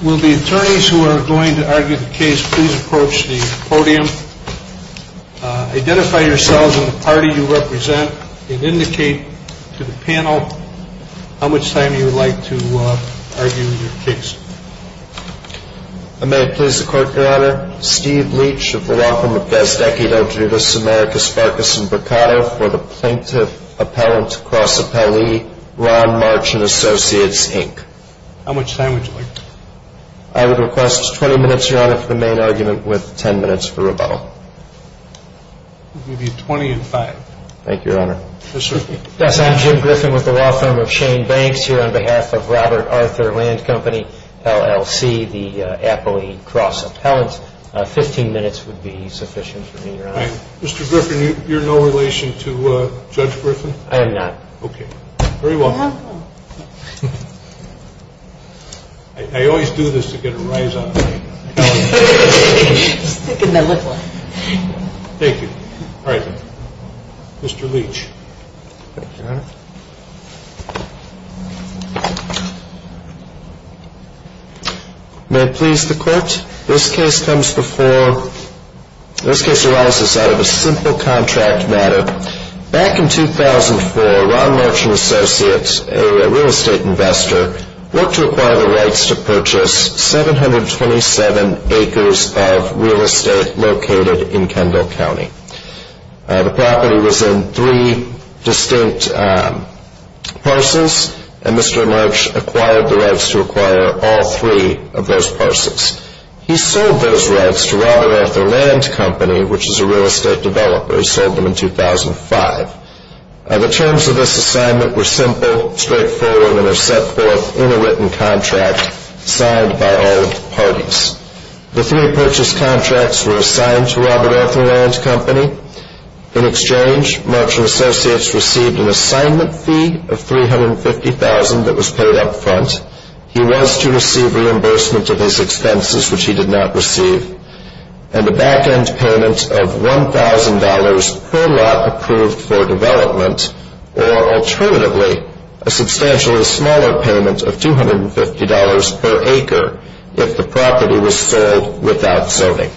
Will the attorneys who are going to argue the case please approach the podium, identify yourselves and the party you represent, and indicate to the panel how much time you would like to argue your case. I would request 20 minutes, Your Honor, for the main argument with 10 minutes for rebuttal. We'll give you 20 and 5. Yes, I'm Jim Griffin with the law firm of Shane Banks here on behalf of Robert Arthur Land Co., LLC, the Appley Cross Appellant. 15 minutes would be sufficient for me, Your Honor. Mr. Griffin, you're no relation to Judge Griffin? I am not. Okay. Very well. I always do this to get a rise out of it. Thank you. All right. Mr. Leach. Your Honor. May it please the Court. This case arises out of a simple contract matter. Back in 2004, Ron March & Associates, a real estate investor, worked to acquire the rights to purchase 727 acres of real estate located in Kendall County. The property was in three distinct parcels, and Mr. March acquired the rights to acquire all three of those parcels. He sold those rights to Robert Arthur Land Company, which is a real estate developer. He sold them in 2005. The terms of this assignment were simple, straightforward, and are set forth in a written contract signed by all parties. The three purchase contracts were assigned to Robert Arthur Land Company. In exchange, March & Associates received an assignment fee of $350,000 that was paid up front. He was to receive reimbursement of his expenses, which he did not receive, and a back-end payment of $1,000 per lot approved for development, or alternatively, a substantially smaller payment of $250 per acre if the property was sold without zoning.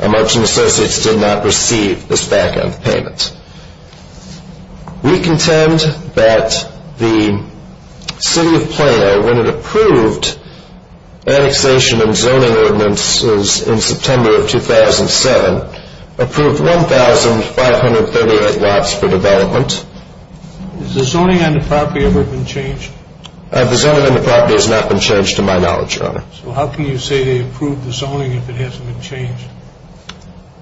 March & Associates did not receive this back-end payment. We contend that the City of Plano, when it approved annexation and zoning ordinances in September of 2007, approved 1,538 lots for development. Has the zoning on the property ever been changed? The zoning on the property has not been changed to my knowledge, Your Honor. So how can you say they approved the zoning if it hasn't been changed?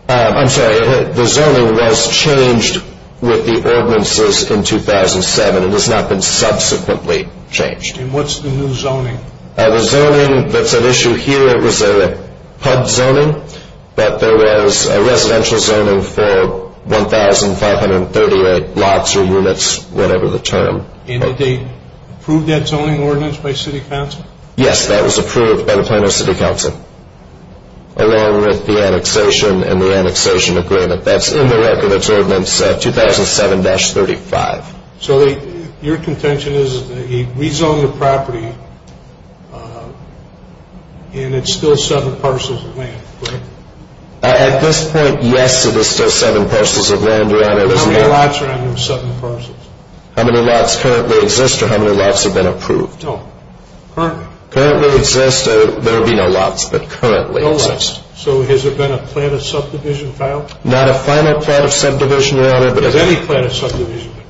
I'm sorry, the zoning was changed with the ordinances in 2007. It has not been subsequently changed. And what's the new zoning? The zoning that's at issue here was a hub zoning, but there was a residential zoning for 1,538 lots or units, whatever the term. And did they approve that zoning ordinance by City Council? Yes, that was approved by the Plano City Council. Along with the annexation and the annexation agreement. That's in the Record of Determinants 2007-35. So your contention is that he rezoned the property and it's still seven parcels of land, correct? At this point, yes, it is still seven parcels of land, Your Honor. How many lots are in those seven parcels? How many lots currently exist or how many lots have been approved? No, currently. Currently exist, there would be no lots, but currently exist. So has there been a plan of subdivision filed? Not a final plan of subdivision, Your Honor. Has any plan of subdivision been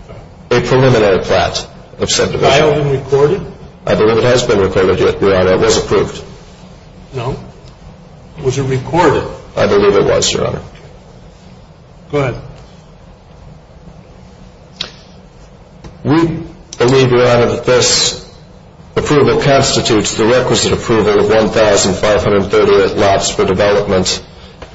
filed? A preliminary plan of subdivision. Filed and recorded? I believe it has been recorded, Your Honor. It was approved. No. Was it recorded? I believe it was, Your Honor. Go ahead. We believe, Your Honor, that this approval constitutes the requisite approval of 1,538 lots for development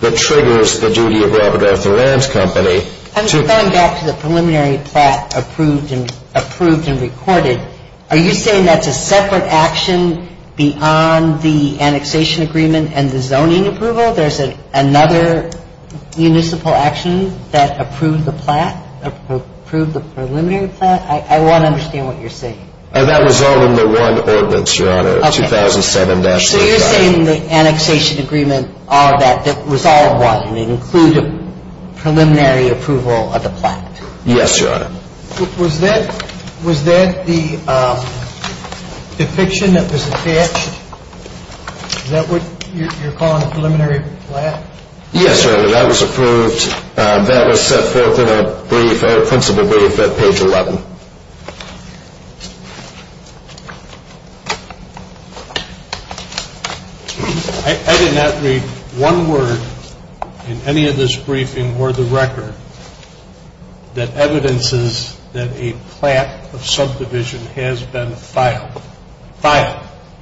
that triggers the duty of Robert Arthur Land Company to... Going back to the preliminary plan approved and recorded, are you saying that's a separate action beyond the annexation agreement and the zoning approval? There's another municipal action that approved the plan, approved the preliminary plan? I want to understand what you're saying. That was all in the one ordinance, Your Honor, 2007-05. So you're saying the annexation agreement, all of that, that was all one. It included preliminary approval of the plan. Yes, Your Honor. Was that the depiction that was attached? Is that what you're calling a preliminary plan? Yes, Your Honor. That was approved. That was set forth in a brief, a principal brief at page 11. I did not read one word in any of this briefing or the record that evidences that a plan of subdivision has been filed.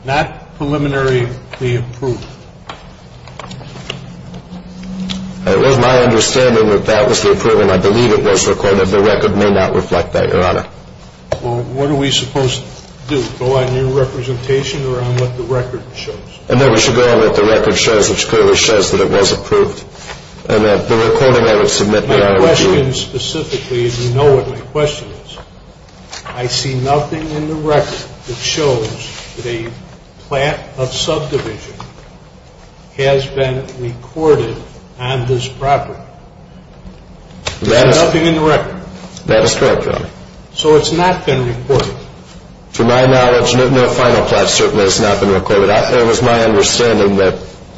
Not preliminaryly approved. It was my understanding that that was the approval, and I believe it was recorded. The record may not reflect that, Your Honor. Well, what are we supposed to do? Go on your representation or on what the record shows? No, we should go on what the record shows, which clearly shows that it was approved. And that the recording I would submit that I would do. My question specifically, if you know what my question is, I see nothing in the record that shows that a plan of subdivision has been recorded on this property. There's nothing in the record. That is correct, Your Honor. So it's not been recorded. To my knowledge, no final plan certainly has not been recorded. It was my understanding that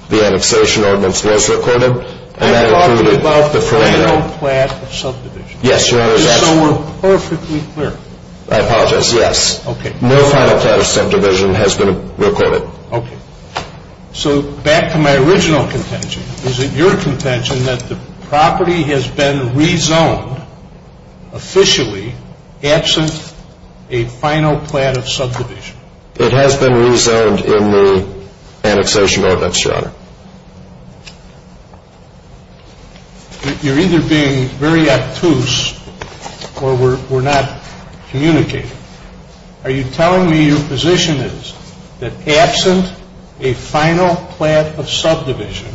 the annexation ordinance was recorded, and that included the preliminary. I'm talking about the final plan of subdivision. Yes, Your Honor. Just so we're perfectly clear. I apologize. Yes. Okay. No final plan of subdivision has been recorded. Okay. So back to my original contention. Is it your contention that the property has been rezoned officially, absent a final plan of subdivision? It has been rezoned in the annexation ordinance, Your Honor. You're either being very obtuse, or we're not communicating. Are you telling me your position is that absent a final plan of subdivision,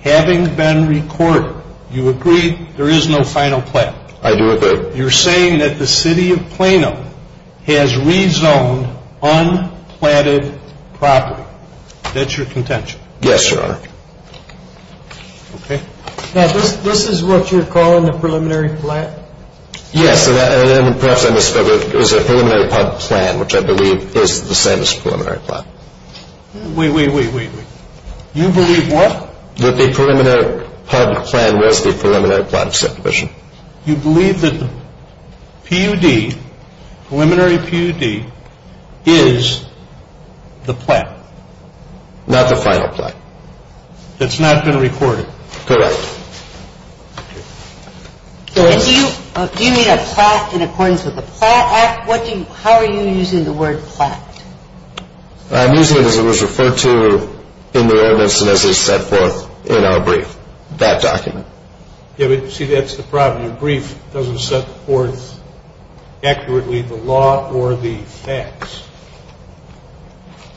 having been recorded, you agree there is no final plan? I do agree. You're saying that the City of Plano has rezoned unplanted property. That's your contention. Yes, Your Honor. Okay. Now, this is what you're calling the preliminary plan? Yes, and perhaps I misspelled it. It was a preliminary plan, which I believe is the same as preliminary plan. Wait, wait, wait, wait, wait. You believe what? That the preliminary plan was the preliminary plan of subdivision. You believe that PUD, preliminary PUD, is the plan? Not the final plan. That's not been recorded. Correct. Do you mean a plot in accordance with the plot? How are you using the word plot? I'm using it as it was referred to in the ordinance and as it's set forth in our brief, that document. See, that's the problem. Your brief doesn't set forth accurately the law or the facts.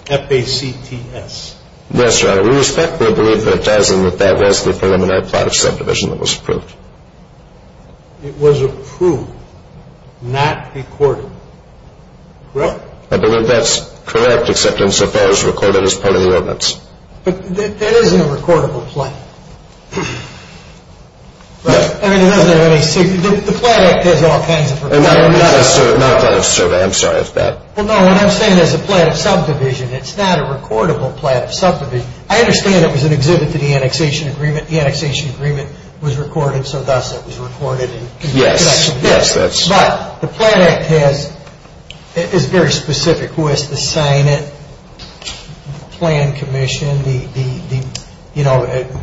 F-A-C-T-S. Yes, Your Honor. We respectfully believe that it does and that that was the preliminary plan of subdivision that was approved. It was approved, not recorded. Correct? I believe that's correct, except insofar as recorded as part of the ordinance. But that isn't a recordable plan. I mean, it doesn't have any significance. The Plan Act has all kinds of requirements. Not a plan of survey. I'm sorry, that's bad. Well, no, what I'm saying is a plan of subdivision. It's not a recordable plan of subdivision. I understand it was an exhibit to the annexation agreement. The annexation agreement was recorded, so thus it was recorded. Yes, yes. But the Plan Act is very specific. Who has to sign it, the plan commission, the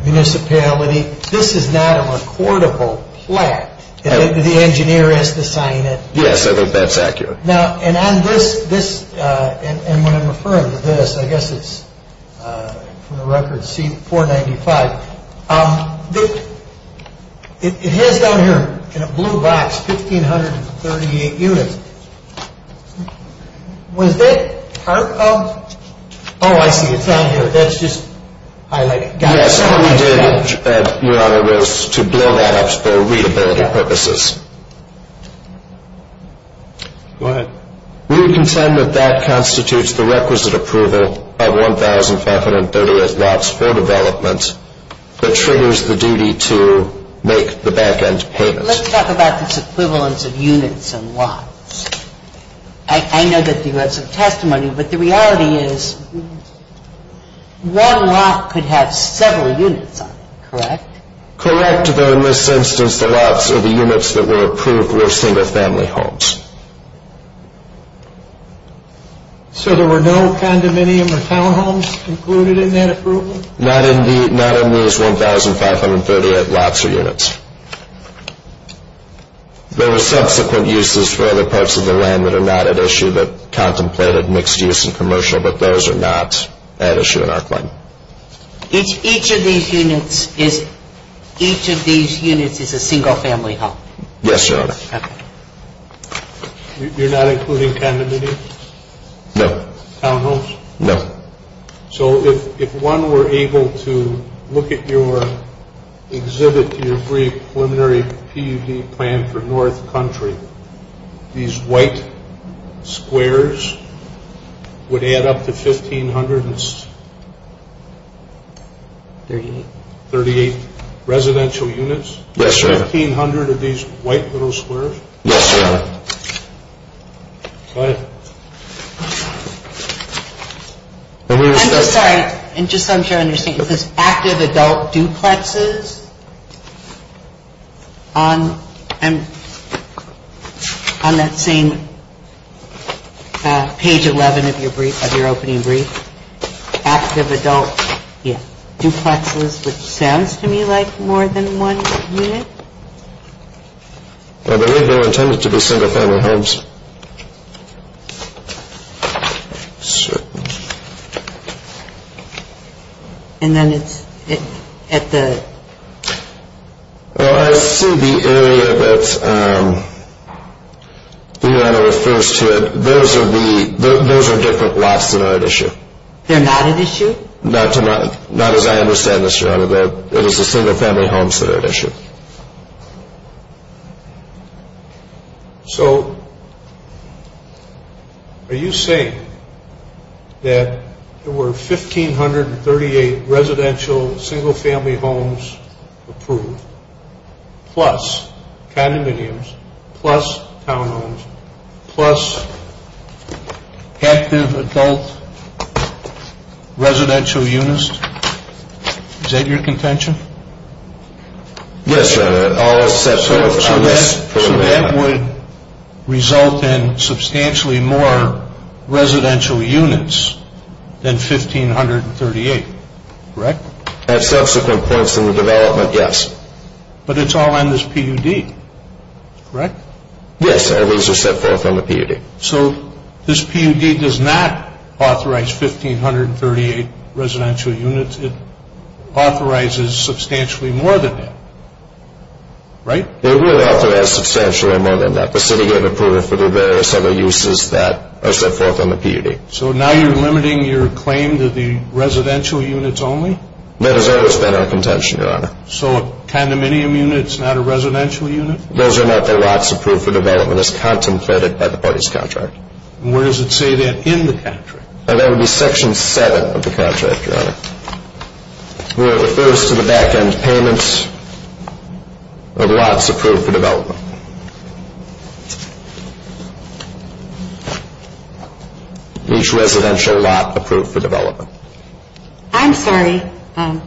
municipality. This is not a recordable plan. The engineer has to sign it. Yes, I think that's accurate. Now, and on this, and when I'm referring to this, I guess it's from the record C-495. It has down here in a blue box 1,538 units. Was that part of, oh, I see, it's down here. That's just highlighted. Yes, what we did, Your Honor, was to blow that up for readability purposes. Go ahead. We contend that that constitutes the requisite approval of 1,538 lots for development that triggers the duty to make the back-end payment. Let's talk about this equivalence of units and lots. I know that you have some testimony, but the reality is one lot could have several units on it, correct? Correct, but in this instance, the lots or the units that were approved were single-family homes. So there were no condominium or townhomes included in that approval? Not in these 1,538 lots or units. There were subsequent uses for other parts of the land that are not at issue that contemplated mixed use and commercial, but those are not at issue in our claim. Each of these units is a single-family home? Yes, Your Honor. You're not including condominiums? No. Townhomes? No. So if one were able to look at your exhibit to your brief preliminary PUD plan for North Country, these white squares would add up to 1,538 residential units? Yes, Your Honor. 1,500 of these white little squares? Yes, Your Honor. Go ahead. I'm just sorry. Just so I'm sure I understand, was this active adult duplexes on that same page 11 of your opening brief? Active adult duplexes, which sounds to me like more than one unit. I believe they were intended to be single-family homes. And then it's at the? Well, I see the area that your Honor refers to, those are different lots that are at issue. They're not at issue? Not as I understand this, Your Honor. It is the single-family homes that are at issue. So are you saying that there were 1,538 residential single-family homes approved, plus condominiums, plus townhomes, plus active adult residential units? Is that your contention? Yes, Your Honor. So that would result in substantially more residential units than 1,538, correct? At subsequent points in the development, yes. But it's all on this PUD, correct? Yes, and these are set forth on the PUD. So this PUD does not authorize 1,538 residential units. It authorizes substantially more than that, right? It would authorize substantially more than that. The city gave approval for the various other uses that are set forth on the PUD. Okay, so now you're limiting your claim to the residential units only? That has always been our contention, Your Honor. So a condominium unit is not a residential unit? Those are not the lots approved for development as contemplated by the party's contract. And where does it say that in the contract? That would be Section 7 of the contract, Your Honor, where it refers to the back-end payments of lots approved for development. Okay. Each residential lot approved for development. I'm sorry. Go ahead.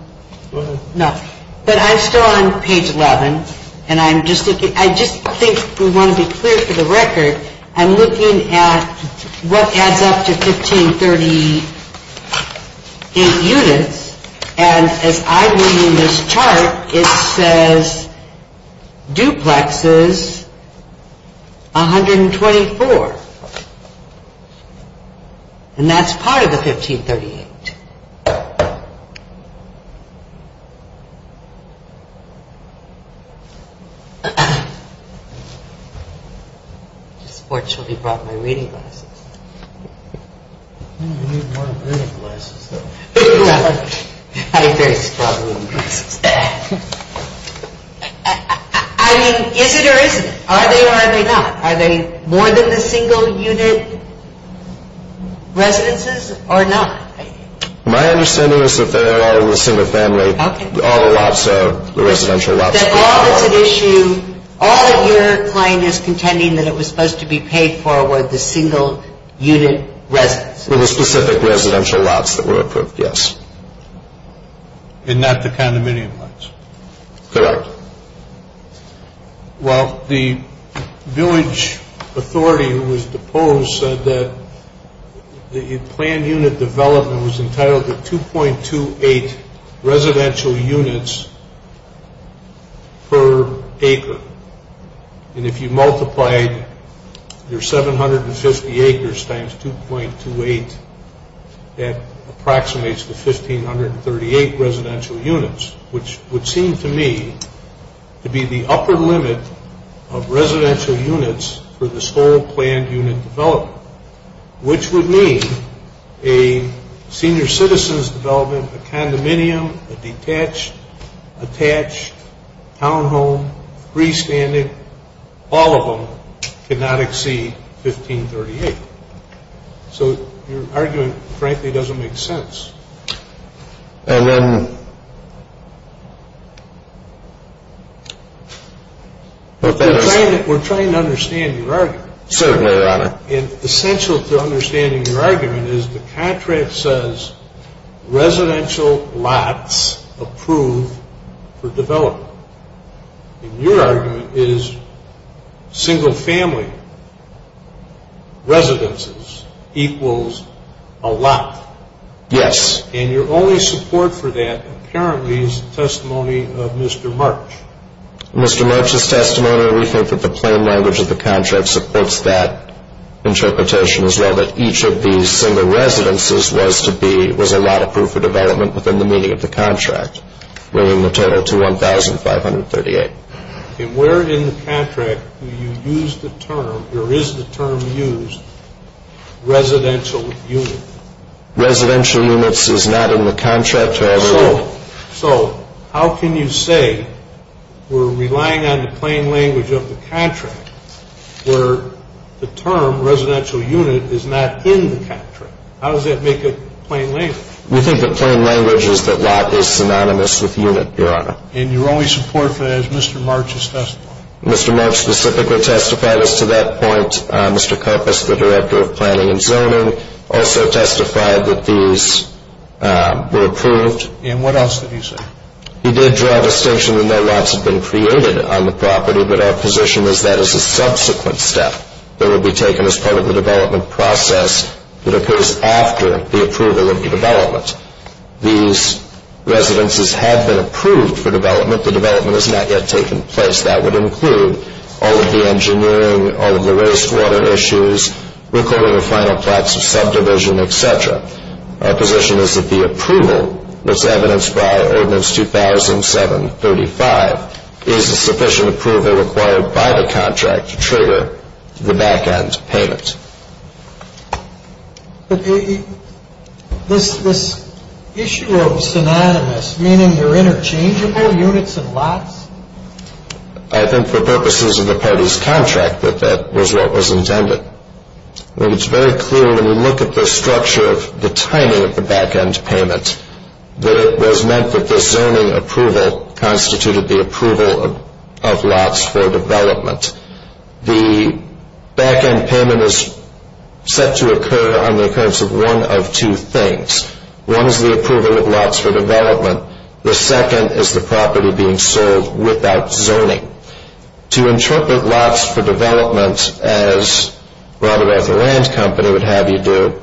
No, but I'm still on page 11, and I'm just looking. I just think we want to be clear for the record. I'm looking at what adds up to 1,538 units, and as I'm reading this chart, it says duplexes, 124. And that's part of the 1,538. I just fortunately brought my reading glasses. You need more reading glasses, though. I have very strong reading glasses. I mean, is it or isn't it? Are they or are they not? Are they more than the single-unit residences or not? My understanding is that they are all in a single family. Okay. All the lots are residential lots. That all is an issue. All that your client is contending that it was supposed to be paid for were the single-unit residences. The specific residential lots that were approved, yes. And not the condominium lots. Correct. Well, the village authority who was deposed said that the planned unit development was entitled to 2.28 residential units per acre. And if you multiply your 750 acres times 2.28, that approximates to 1,538 residential units, which would seem to me to be the upper limit of residential units for this whole planned unit development, which would mean a senior citizen's development, a condominium, a detached, attached townhome, freestanding, all of them could not exceed 1,538. So your argument, frankly, doesn't make sense. And then... We're trying to understand your argument. Certainly, Your Honor. And essential to understanding your argument is the contract says residential lots approved for development. And your argument is single-family residences equals a lot. Yes. And your only support for that apparently is the testimony of Mr. March. Mr. March's testimony, we think that the plain language of the contract supports that interpretation as well, that each of these single residences was a lot approved for development within the meaning of the contract, bringing the total to 1,538. And where in the contract do you use the term, or is the term used, residential unit? Residential units is not in the contract, Your Honor. So how can you say we're relying on the plain language of the contract where the term residential unit is not in the contract? How does that make it plain language? We think the plain language is that lot is synonymous with unit, Your Honor. And your only support for that is Mr. March's testimony. Mr. March specifically testified as to that point. Mr. Karpus, the director of planning and zoning, also testified that these were approved. And what else did he say? He did draw a distinction that no lots had been created on the property, but our position is that is a subsequent step that will be taken as part of the development process that occurs after the approval of the development. These residences have been approved for development. The development has not yet taken place. That would include all of the engineering, all of the wastewater issues, recording of final plots of subdivision, et cetera. Our position is that the approval that's evidenced by Ordinance 2007-35 is a sufficient approval required by the contract to trigger the back-end payment. But this issue of synonymous, meaning they're interchangeable, units and lots? I think for purposes of the party's contract that that was what was intended. But it's very clear when we look at the structure of the timing of the back-end payment that it was meant that this zoning approval constituted the approval of lots for development. The back-end payment is set to occur on the occurrence of one of two things. One is the approval of lots for development. The second is the property being sold without zoning. To interpret lots for development as Robert Arthur Land Company would have you do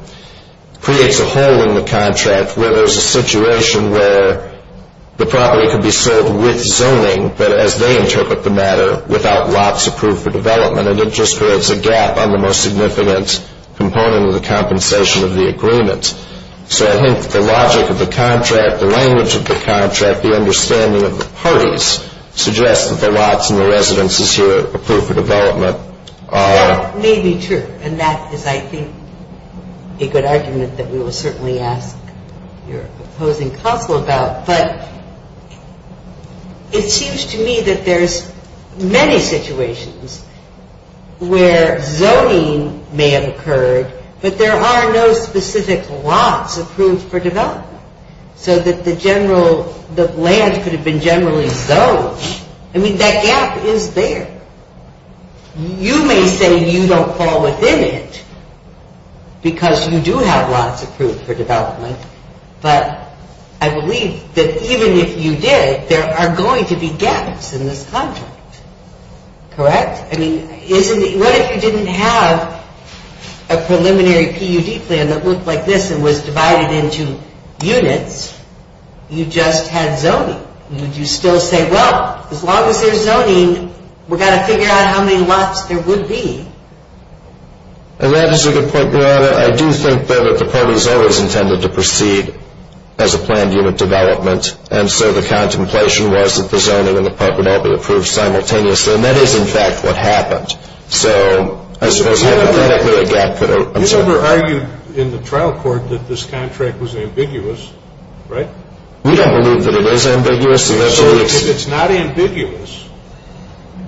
creates a hole in the contract where there's a situation where the property can be sold with zoning, but as they interpret the matter, without lots approved for development. And it just creates a gap on the most significant component of the compensation of the agreement. So I think the logic of the contract, the language of the contract, the understanding of the parties, suggests that the lots and the residences here approved for development are. That may be true. And that is, I think, a good argument that we will certainly ask your opposing council about. But it seems to me that there's many situations where zoning may have occurred, but there are no specific lots approved for development. So that the general, the land could have been generally zoned. I mean, that gap is there. You may say you don't fall within it because you do have lots approved for development, but I believe that even if you did, there are going to be gaps in this contract. Correct? I mean, what if you didn't have a preliminary PUD plan that looked like this and was divided into units? You just had zoning. Would you still say, well, as long as there's zoning, we've got to figure out how many lots there would be? And that is a good point, Your Honor. I do think, though, that the parties always intended to proceed as a planned unit development, and so the contemplation was that the zoning and the PUD would all be approved simultaneously. And that is, in fact, what happened. So I suppose hypothetically a gap could have occurred. You never argued in the trial court that this contract was ambiguous, right? We don't believe that it is ambiguous. So if it's not ambiguous,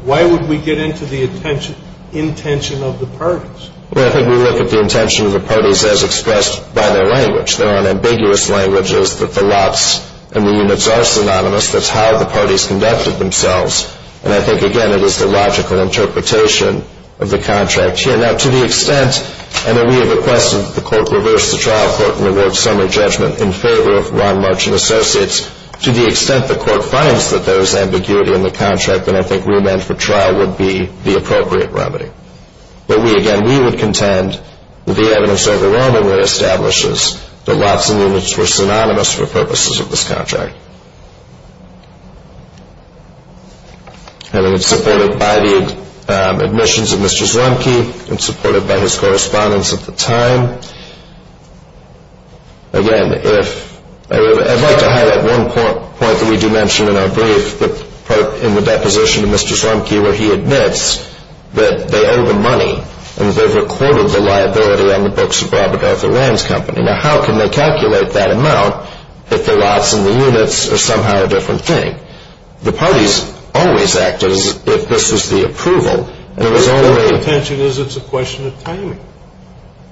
why would we get into the intention of the parties? Well, I think we look at the intention of the parties as expressed by their language. There are ambiguous languages that the lots and the units are synonymous. That's how the parties conducted themselves. And I think, again, it is the logical interpretation of the contract here. Now, to the extent, and we have requested that the court reverse the trial court and award summary judgment in favor of Ron March and Associates, to the extent the court finds that there is ambiguity in the contract, then I think remand for trial would be the appropriate remedy. But we, again, we would contend that the evidence overwhelmingly establishes that lots and units were synonymous for purposes of this contract. And it's supported by the admissions of Mr. Slumke and supported by his correspondence at the time. Again, I'd like to highlight one point that we do mention in our brief, but in the deposition to Mr. Slumke where he admits that they owe the money and they've recorded the liability on the books of Robert Arthur Rand's company. Now, how can they calculate that amount if the lots and the units are somehow a different thing? The parties always act as if this is the approval. Their contention is it's a question of timing.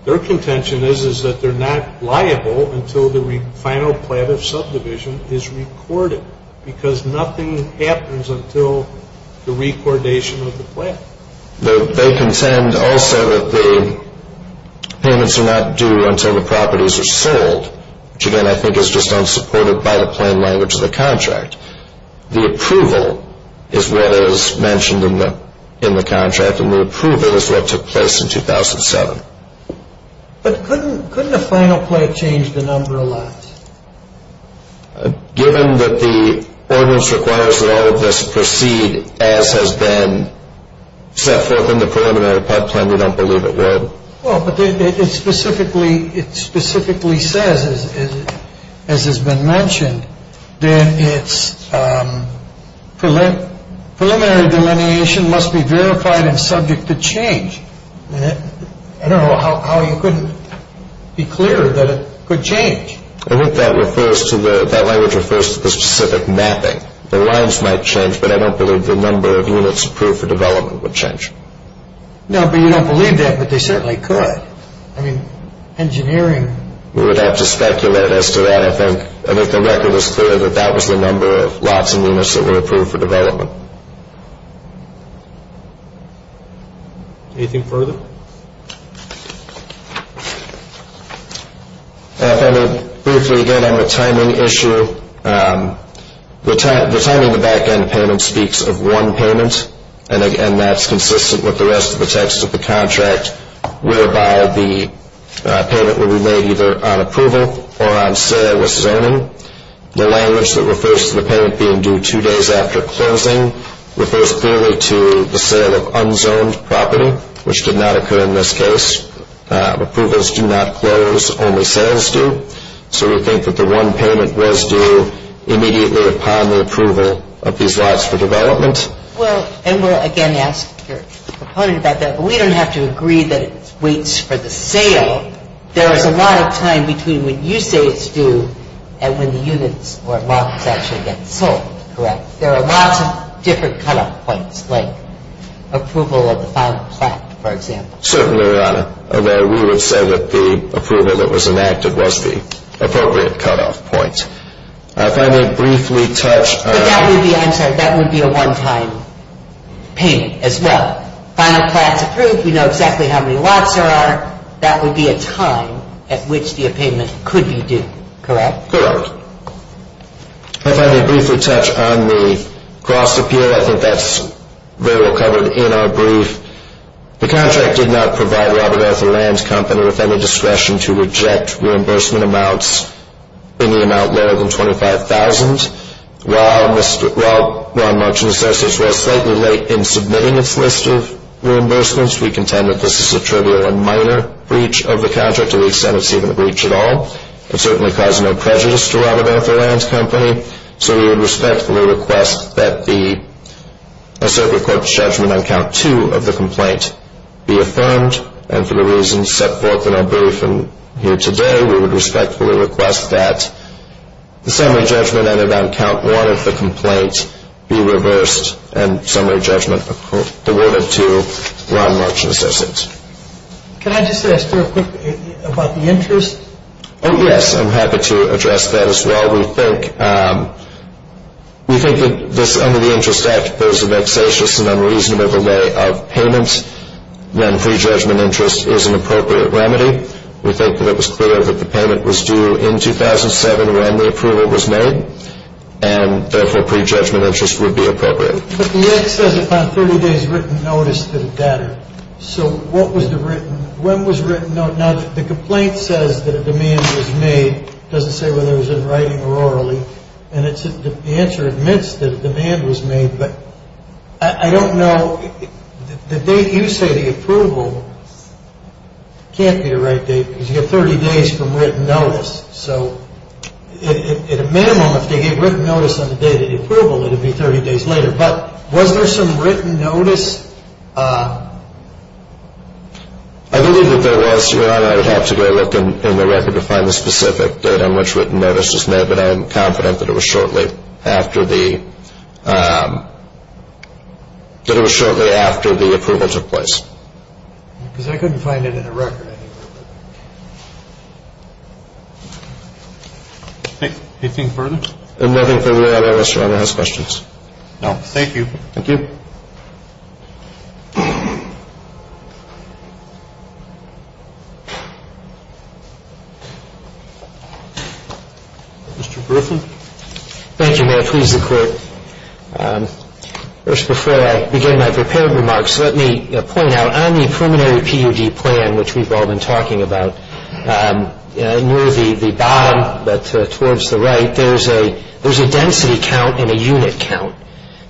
Their contention is that they're not liable until the final plan of subdivision is recorded because nothing happens until the recordation of the plan. They contend also that the payments are not due until the properties are sold, which, again, I think is just unsupported by the plain language of the contract. The approval is what is mentioned in the contract, and the approval is what took place in 2007. But couldn't a final plan change the number of lots? Given that the ordinance requires that all of this proceed as has been set forth in the preliminary plan, we don't believe it would. Well, but it specifically says, as has been mentioned, that its preliminary delineation must be verified and subject to change. I don't know how you couldn't be clearer that it could change. I think that language refers to the specific mapping. The lines might change, but I don't believe the number of units approved for development would change. No, but you don't believe that, but they certainly could. I mean, engineering. We would have to speculate as to that, I think. I think the record is clear that that was the number of lots and units that were approved for development. Anything further? Thank you. If I may briefly again on the timing issue, the timing of the back-end payment speaks of one payment, and that's consistent with the rest of the text of the contract, whereby the payment will be made either on approval or on sale with zoning. The language that refers to the payment being due two days after closing refers clearly to the sale of unzoned property, which did not occur in this case. Approvals do not close, only sales do. So we think that the one payment was due immediately upon the approval of these lots for development. Well, and we'll again ask your proponent about that, but we don't have to agree that it waits for the sale. There is a lot of time between when you say it's due and when the units or lots actually get sold, correct? There are lots of different cut-off points, like approval of the final plaque, for example. Certainly, Your Honor, and we would say that the approval that was enacted was the appropriate cut-off point. If I may briefly touch on... But that would be, I'm sorry, that would be a one-time payment as well. Final plaque's approved, we know exactly how many lots there are, that would be a time at which the payment could be due, correct? Correct. If I may briefly touch on the cost appeal, I think that's very well covered in our brief. The contract did not provide Robert Arthur Land Company with any discretion to reject reimbursement amounts in the amount lower than $25,000. While Ron Munch and associates were slightly late in submitting its list of reimbursements, we contend that this is a trivial and minor breach of the contract to the extent it's even a breach at all. It certainly causes no prejudice to Robert Arthur Land Company, so we would respectfully request that the asserted court's judgment on Count 2 of the complaint be affirmed, and for the reasons set forth in our brief here today, we would respectfully request that the summary judgment entered on Count 1 of the complaint be reversed and summary judgment accorded to Ron Munch and associates. Can I just ask very quickly about the interest? Oh, yes, I'm happy to address that as well. We think that under the Interest Act, there's a vexatious and unreasonable delay of payments when pre-judgment interest is an appropriate remedy. We think that it was clear that the payment was due in 2007 when the approval was made, and therefore pre-judgment interest would be appropriate. But the Act says upon 30 days written notice that it mattered. So what was the written, when was written notice? Now, the complaint says that a demand was made. It doesn't say whether it was in writing or orally, and the answer admits that a demand was made, but I don't know, the date you say the approval, can't be the right date, because you have 30 days from written notice. So at a minimum, if they gave written notice on the date of the approval, it would be 30 days later, but was there some written notice? I believe that there was, Your Honor. I would have to go look in the record to find the specific date on which written notice was made, but I am confident that it was shortly after the approval took place. Because I couldn't find it in the record. Anything further? Nothing further, Your Honor. I was trying to ask questions. No. Thank you. Thank you. Mr. Griffin. Thank you, Your Honor. Please, the Court. First, before I begin my prepared remarks, let me point out, on the preliminary PUD plan, which we've all been talking about, near the bottom, but towards the right, there's a density count and a unit count.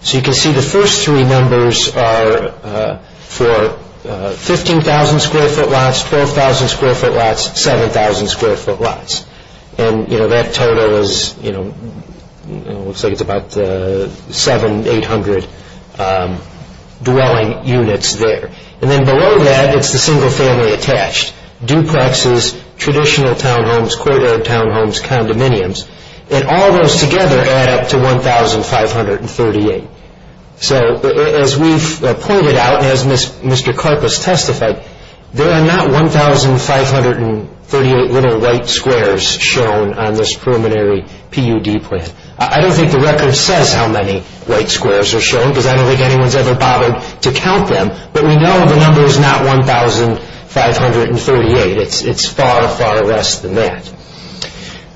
So you can see the first three numbers are for 15,000 square foot lots, 12,000 square foot lots, 7,000 square foot lots, and that total looks like it's about 700, 800 dwelling units there. And then below that, it's the single family attached, duplexes, traditional townhomes, courtyard townhomes, condominiums. And all those together add up to 1,538. So as we've pointed out, as Mr. Karpus testified, there are not 1,538 little white squares shown on this preliminary PUD plan. I don't think the record says how many white squares are shown, because I don't think anyone's ever bothered to count them. But we know the number is not 1,538. It's far, far less than that.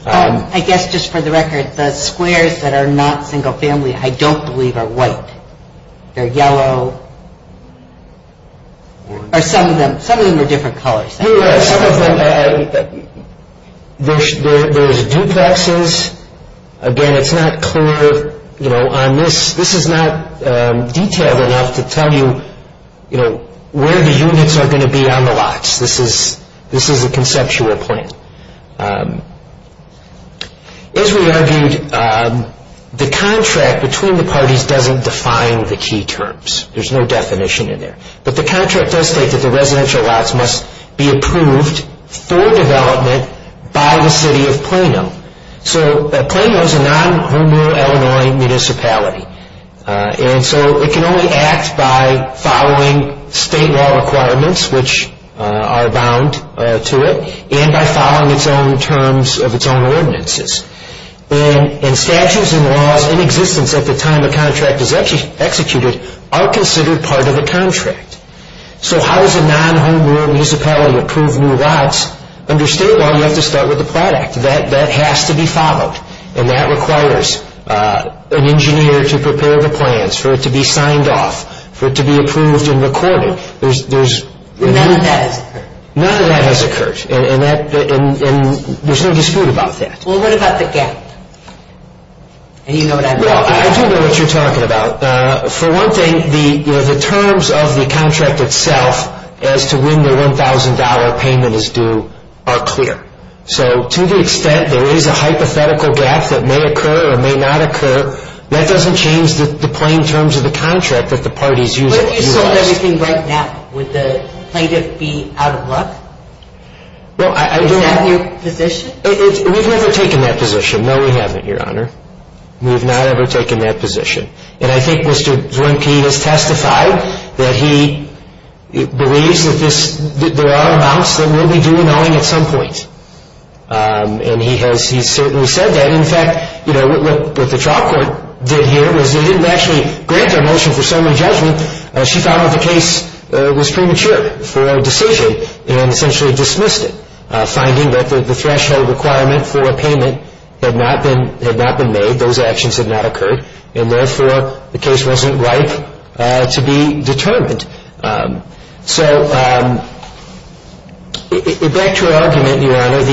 I guess just for the record, the squares that are not single family, I don't believe are white. They're yellow. Or some of them. Some of them are different colors. There's duplexes. Again, it's not clear on this. This is not detailed enough to tell you where the units are going to be on the lots. This is a conceptual plan. As we argued, the contract between the parties doesn't define the key terms. There's no definition in there. But the contract does state that the residential lots must be approved for development by the city of Plano. So Plano is a non-home-rural Illinois municipality. And so it can only act by following state law requirements, which are bound to it, and by following its own terms of its own ordinances. And statutes and laws in existence at the time the contract is executed are considered part of the contract. So how does a non-home-rural municipality approve new lots? Under state law, you have to start with the product. That has to be followed. And that requires an engineer to prepare the plans for it to be signed off, for it to be approved and recorded. None of that has occurred. None of that has occurred. And there's no dispute about that. Well, what about the gap? I do know what you're talking about. For one thing, the terms of the contract itself as to when the $1,000 payment is due are clear. So to the extent there is a hypothetical gap that may occur or may not occur, that doesn't change the plain terms of the contract that the parties use. But if you sold everything right now, would the plaintiff be out of luck? Is that your position? We've never taken that position. No, we haven't, Your Honor. We have not ever taken that position. And I think Mr. Zwinke has testified that he believes that there are amounts that will be due in Owing at some point. And he has certainly said that. In fact, what the trial court did here was they didn't actually grant our motion for summary judgment. She found that the case was premature for a decision and essentially dismissed it, finding that the threshold requirement for a payment had not been made, those actions had not occurred, and therefore the case wasn't ripe to be determined. So back to our argument, Your Honor.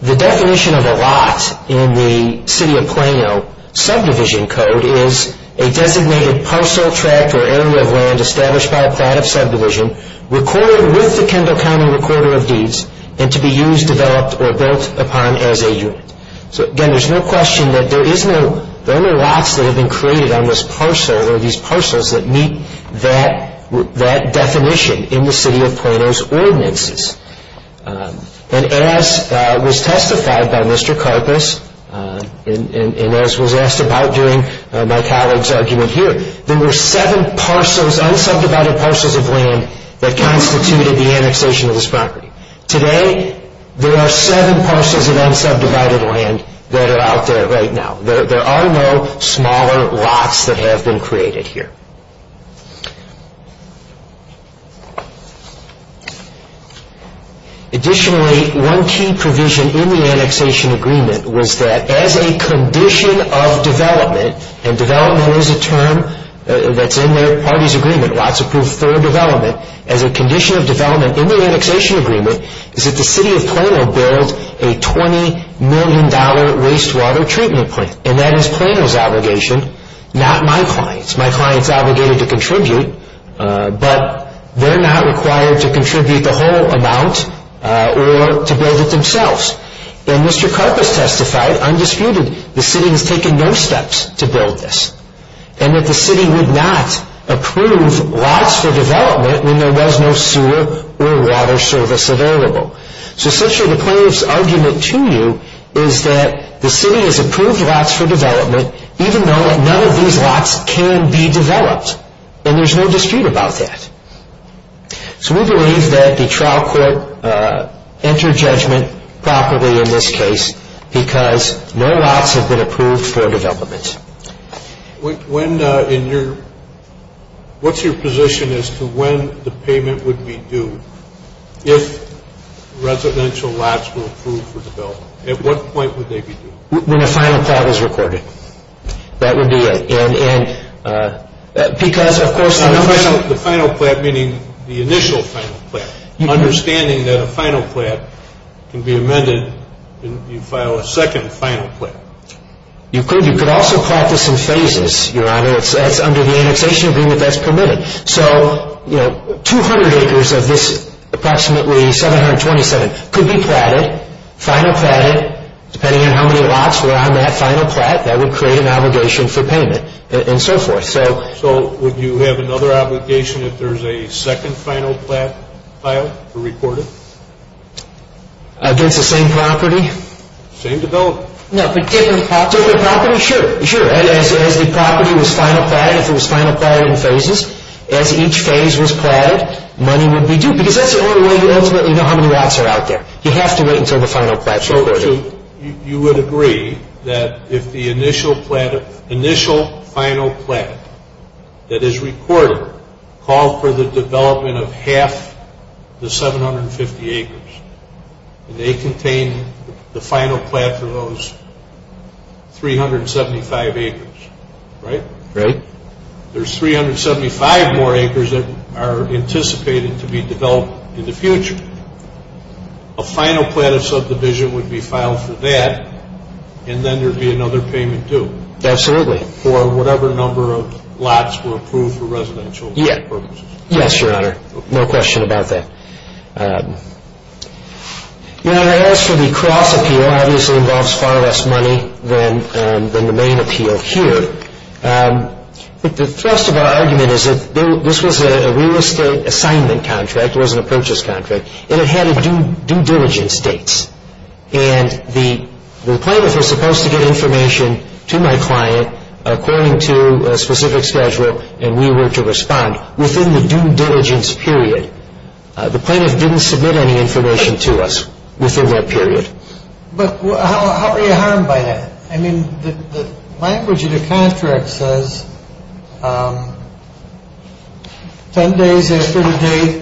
The definition of a lot in the City of Plano subdivision code is a designated parcel, tract, or area of land established by a plaintiff's subdivision, recorded with the Kendall County Recorder of Deeds, and to be used, developed, or built upon as a unit. So, again, there's no question that there are no lots that have been created on this parcel or these parcels that meet that definition in the City of Plano's ordinances. And as was testified by Mr. Karpus and as was asked about during my colleague's argument here, there were seven parcels, unsubdivided parcels of land that constituted the annexation of this property. Today, there are seven parcels of unsubdivided land that are out there right now. There are no smaller lots that have been created here. Additionally, one key provision in the annexation agreement was that as a condition of development, and development is a term that's in their party's agreement, lots approved for development, as a condition of development in the annexation agreement is that the City of Plano build a $20 million wastewater treatment plant. And that is Plano's obligation, not my client's. My client's obligated to contribute, but they're not required to contribute the whole amount or to build it themselves. And Mr. Karpus testified, undisputed, the City has taken no steps to build this, and that the City would not approve lots for development when there was no sewer or water service available. So essentially, the plaintiff's argument to you is that the City has approved lots for development, even though none of these lots can be developed. And there's no dispute about that. So we believe that the trial court entered judgment properly in this case because no lots have been approved for development. What's your position as to when the payment would be due? If residential lots were approved for development, at what point would they be due? When the final plan is recorded, that would be it. The final plan, meaning the initial final plan. Understanding that a final plan can be amended if you file a second final plan. You could also plot this in phases, Your Honor. That's under the annexation agreement that's permitted. So 200 acres of this approximately 727 could be platted, final platted, depending on how many lots were on that final plat. That would create an obligation for payment and so forth. So would you have another obligation if there's a second final plat filed or recorded? Against the same property? Same development. No, but different property. Different property, sure. As the property was final platted, if it was final platted in phases, as each phase was platted, money would be due. Because that's the only way you ultimately know how many lots are out there. You have to wait until the final plat is recorded. So you would agree that if the initial final plat that is recorded called for the development of half the 750 acres, and they contain the final plat for those 375 acres, right? Right. There's 375 more acres that are anticipated to be developed in the future. A final plat of subdivision would be filed for that, and then there would be another payment due. Absolutely. For whatever number of lots were approved for residential purposes. Yes, Your Honor. No question about that. Your Honor, as for the cross appeal, it obviously involves far less money than the main appeal here. The thrust of our argument is that this was a real estate assignment contract. In fact, it wasn't a purchase contract. And it had due diligence dates. And the plaintiff was supposed to get information to my client according to a specific schedule, and we were to respond within the due diligence period. The plaintiff didn't submit any information to us within that period. But how are you harmed by that? I mean, the language of the contract says, 10 days after the date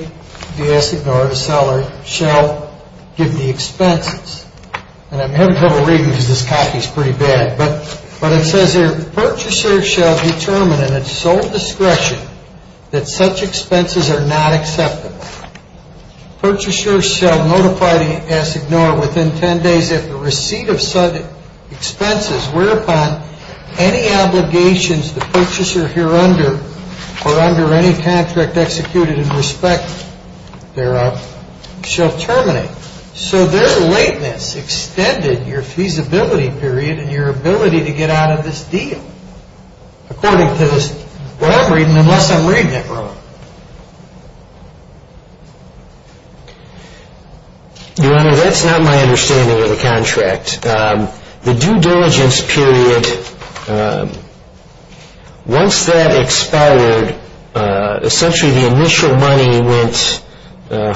the assignor or the seller shall give the expenses. And I'm having trouble reading because this copy is pretty bad. But it says here, purchaser shall determine in its sole discretion that such expenses are not acceptable. Purchaser shall notify the assignor within 10 days if the receipt of such expenses were upon any obligations the purchaser here under or under any contract executed in respect thereof shall terminate. So their lateness extended your feasibility period and your ability to get out of this deal, according to what I'm reading, unless I'm reading it wrong. Your Honor, that's not my understanding of the contract. The due diligence period, once that expired, essentially the initial money went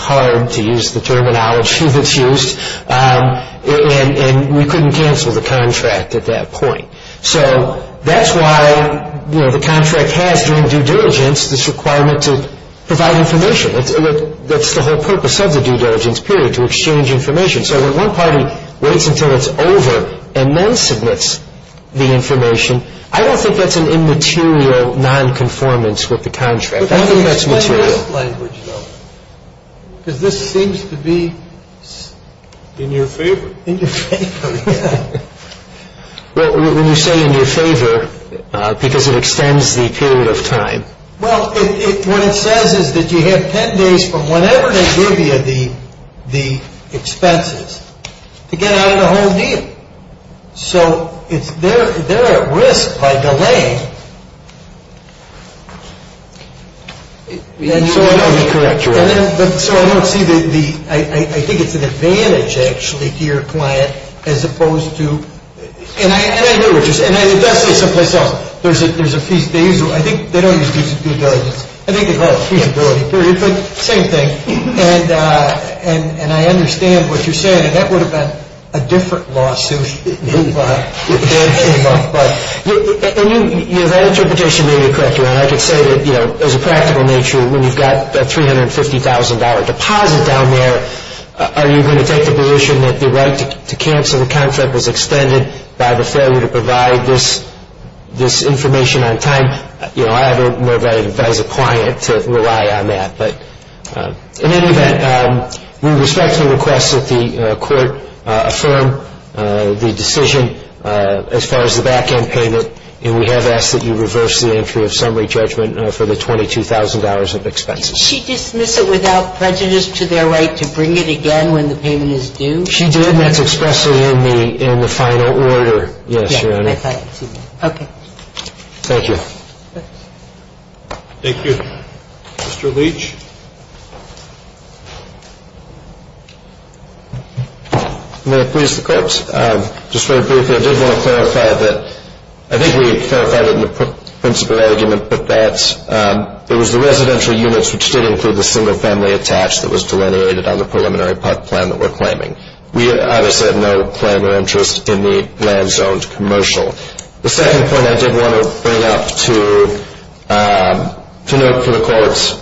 hard, to use the terminology that's used, and we couldn't cancel the contract at that point. So that's why the contract has, during due diligence, this requirement to provide information. That's the whole purpose of the due diligence period, to exchange information. So when one party waits until it's over and then submits the information, I don't think that's an immaterial nonconformance with the contract. I think that's material. Explain this language, though, because this seems to be in your favor. In your favor, yeah. Well, when you say in your favor, because it extends the period of time. Well, what it says is that you have ten days from whenever they give you the expenses to get out of the whole deal. So they're at risk by delaying. So I don't see the, I think it's an advantage, actually, as opposed to, and I do, and it does say someplace else, there's a fee. I think they don't use due diligence. I think they call it a feasibility period, but same thing. And I understand what you're saying. And that would have been a different lawsuit if that came up. And your interpretation may be correct, Your Honor. I could say that, you know, as a practical nature, when you've got a $350,000 deposit down there, are you going to take the position that the right to cancel the contract was extended by the failure to provide this information on time? You know, I don't know if I advise a client to rely on that. But in any event, we respectfully request that the Court affirm the decision as far as the back-end payment, and we have asked that you reverse the entry of summary judgment for the $22,000 of expenses. Did she dismiss it without prejudice to their right to bring it again when the payment is due? She did, and that's expressed in the final order. Yes, Your Honor. Okay. Thank you. Thank you. Mr. Leach. May I please the Court? Just very briefly, I did want to clarify that, I think we clarified it in the principle argument, but that it was the residential units which did include the single-family attached that was delineated on the preliminary pub plan that we're claiming. We obviously have no claim or interest in the land-zoned commercial. The second point I did want to bring up to note for the Court,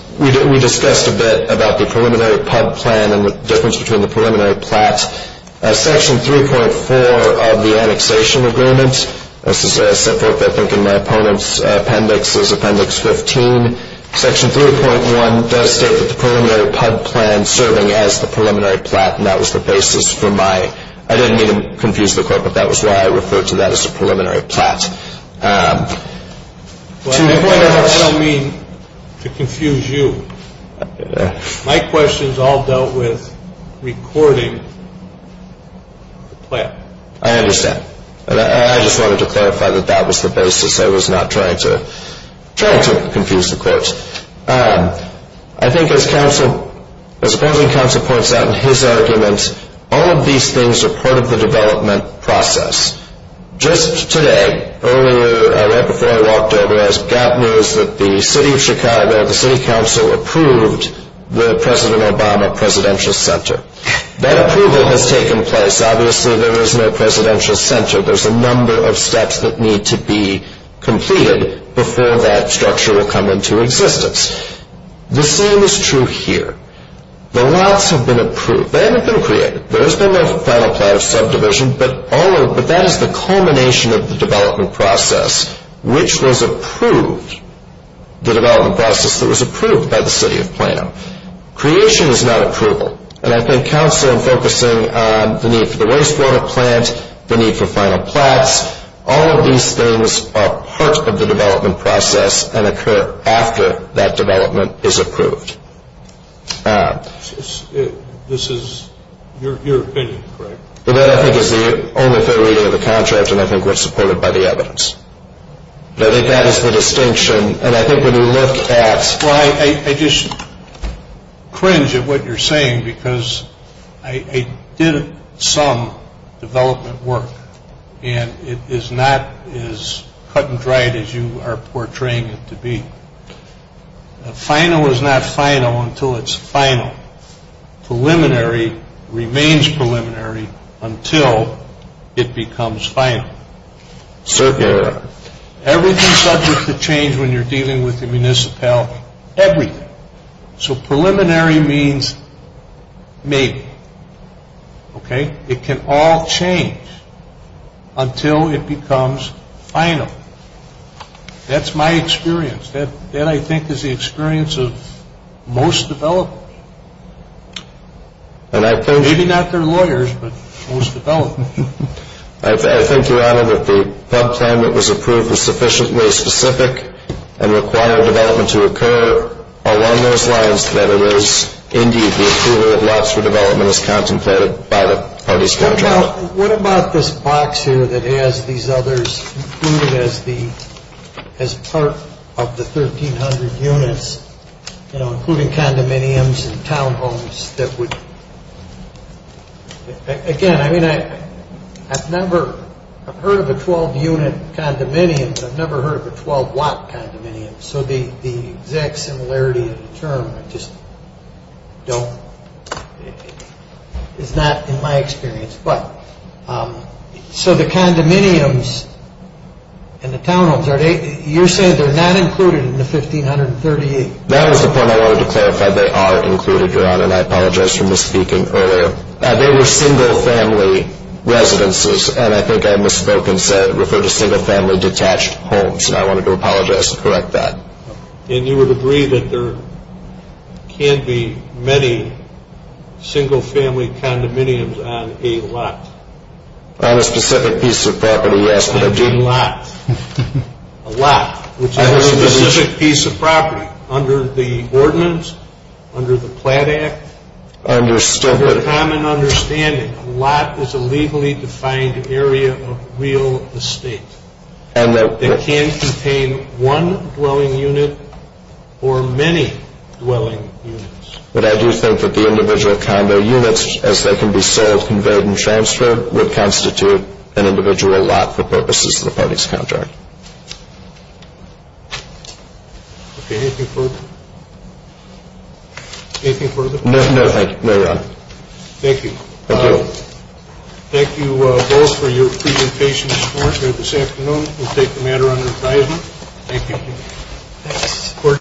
we discussed a bit about the preliminary pub plan and the difference between the preliminary plats. Section 3.4 of the annexation agreement, this is set forth, I think, in my opponent's appendix, is Appendix 15. Section 3.1 does state that the preliminary pub plan serving as the preliminary plat, and that was the basis for my ñ I didn't mean to confuse the Court, but that was why I referred to that as a preliminary plat. To the point, I don't mean to confuse you. My questions all dealt with recording the plat. I understand. I just wanted to clarify that that was the basis. I was not trying to confuse the Court. I think as the opposing counsel points out in his argument, all of these things are part of the development process. Just today, right before I walked over, as Gap knows that the City of Chicago, the City Council, approved the President Obama Presidential Center. That approval has taken place. Obviously, there is no Presidential Center. There's a number of steps that need to be completed before that structure will come into existence. The same is true here. The lots have been approved. They haven't been created. There has been no final plat of subdivision, but that is the culmination of the development process, which was approved, the development process that was approved by the City of Plano. Creation is not approval. And I think, Counsel, I'm focusing on the need for the wastewater plant, the need for final plats. All of these things are part of the development process and occur after that development is approved. This is your opinion, correct? That, I think, is the only theory of the contract, and I think we're supported by the evidence. But I think that is the distinction. And I think when you look at That's why I just cringe at what you're saying, because I did some development work, and it is not as cut and dried as you are portraying it to be. Final is not final until it's final. Preliminary remains preliminary until it becomes final. Circular. Everything's subject to change when you're dealing with the municipality. Everything. So preliminary means maybe. Okay? It can all change until it becomes final. That's my experience. That, I think, is the experience of most developers. Maybe not their lawyers, but most developers. I think, Your Honor, that the plan that was approved was sufficiently specific and required development to occur along those lines that it is. Indeed, the approval of lots for development is contemplated by the parties. What about this box here that has these others included as part of the 1,300 units, including condominiums and townhomes that would? Again, I mean, I've never heard of a 12-unit condominium, but I've never heard of a 12-watt condominium, so the exact similarity of the term is not in my experience. But so the condominiums and the townhomes, you're saying they're not included in the 1,538? That was the point I wanted to clarify. They are included, Your Honor, and I apologize for misspeaking earlier. They were single-family residences, and I think I misspoke and referred to single-family detached homes, and I wanted to apologize and correct that. And you would agree that there can't be many single-family condominiums on a lot? On a specific piece of property, yes. A lot. On a specific piece of property. Under the ordinance, under the Platt Act, under common understanding, a lot is a legally defined area of real estate. It can contain one dwelling unit or many dwelling units. But I do think that the individual condo units, as they can be sold, conveyed, and transferred, would constitute an individual lot for purposes of the parties' contract. Okay, anything further? Anything further? No, thank you, Your Honor. Thank you. Thank you. Thank you both for your presentations this afternoon. We'll take the matter under advisement. Thank you. Thank you.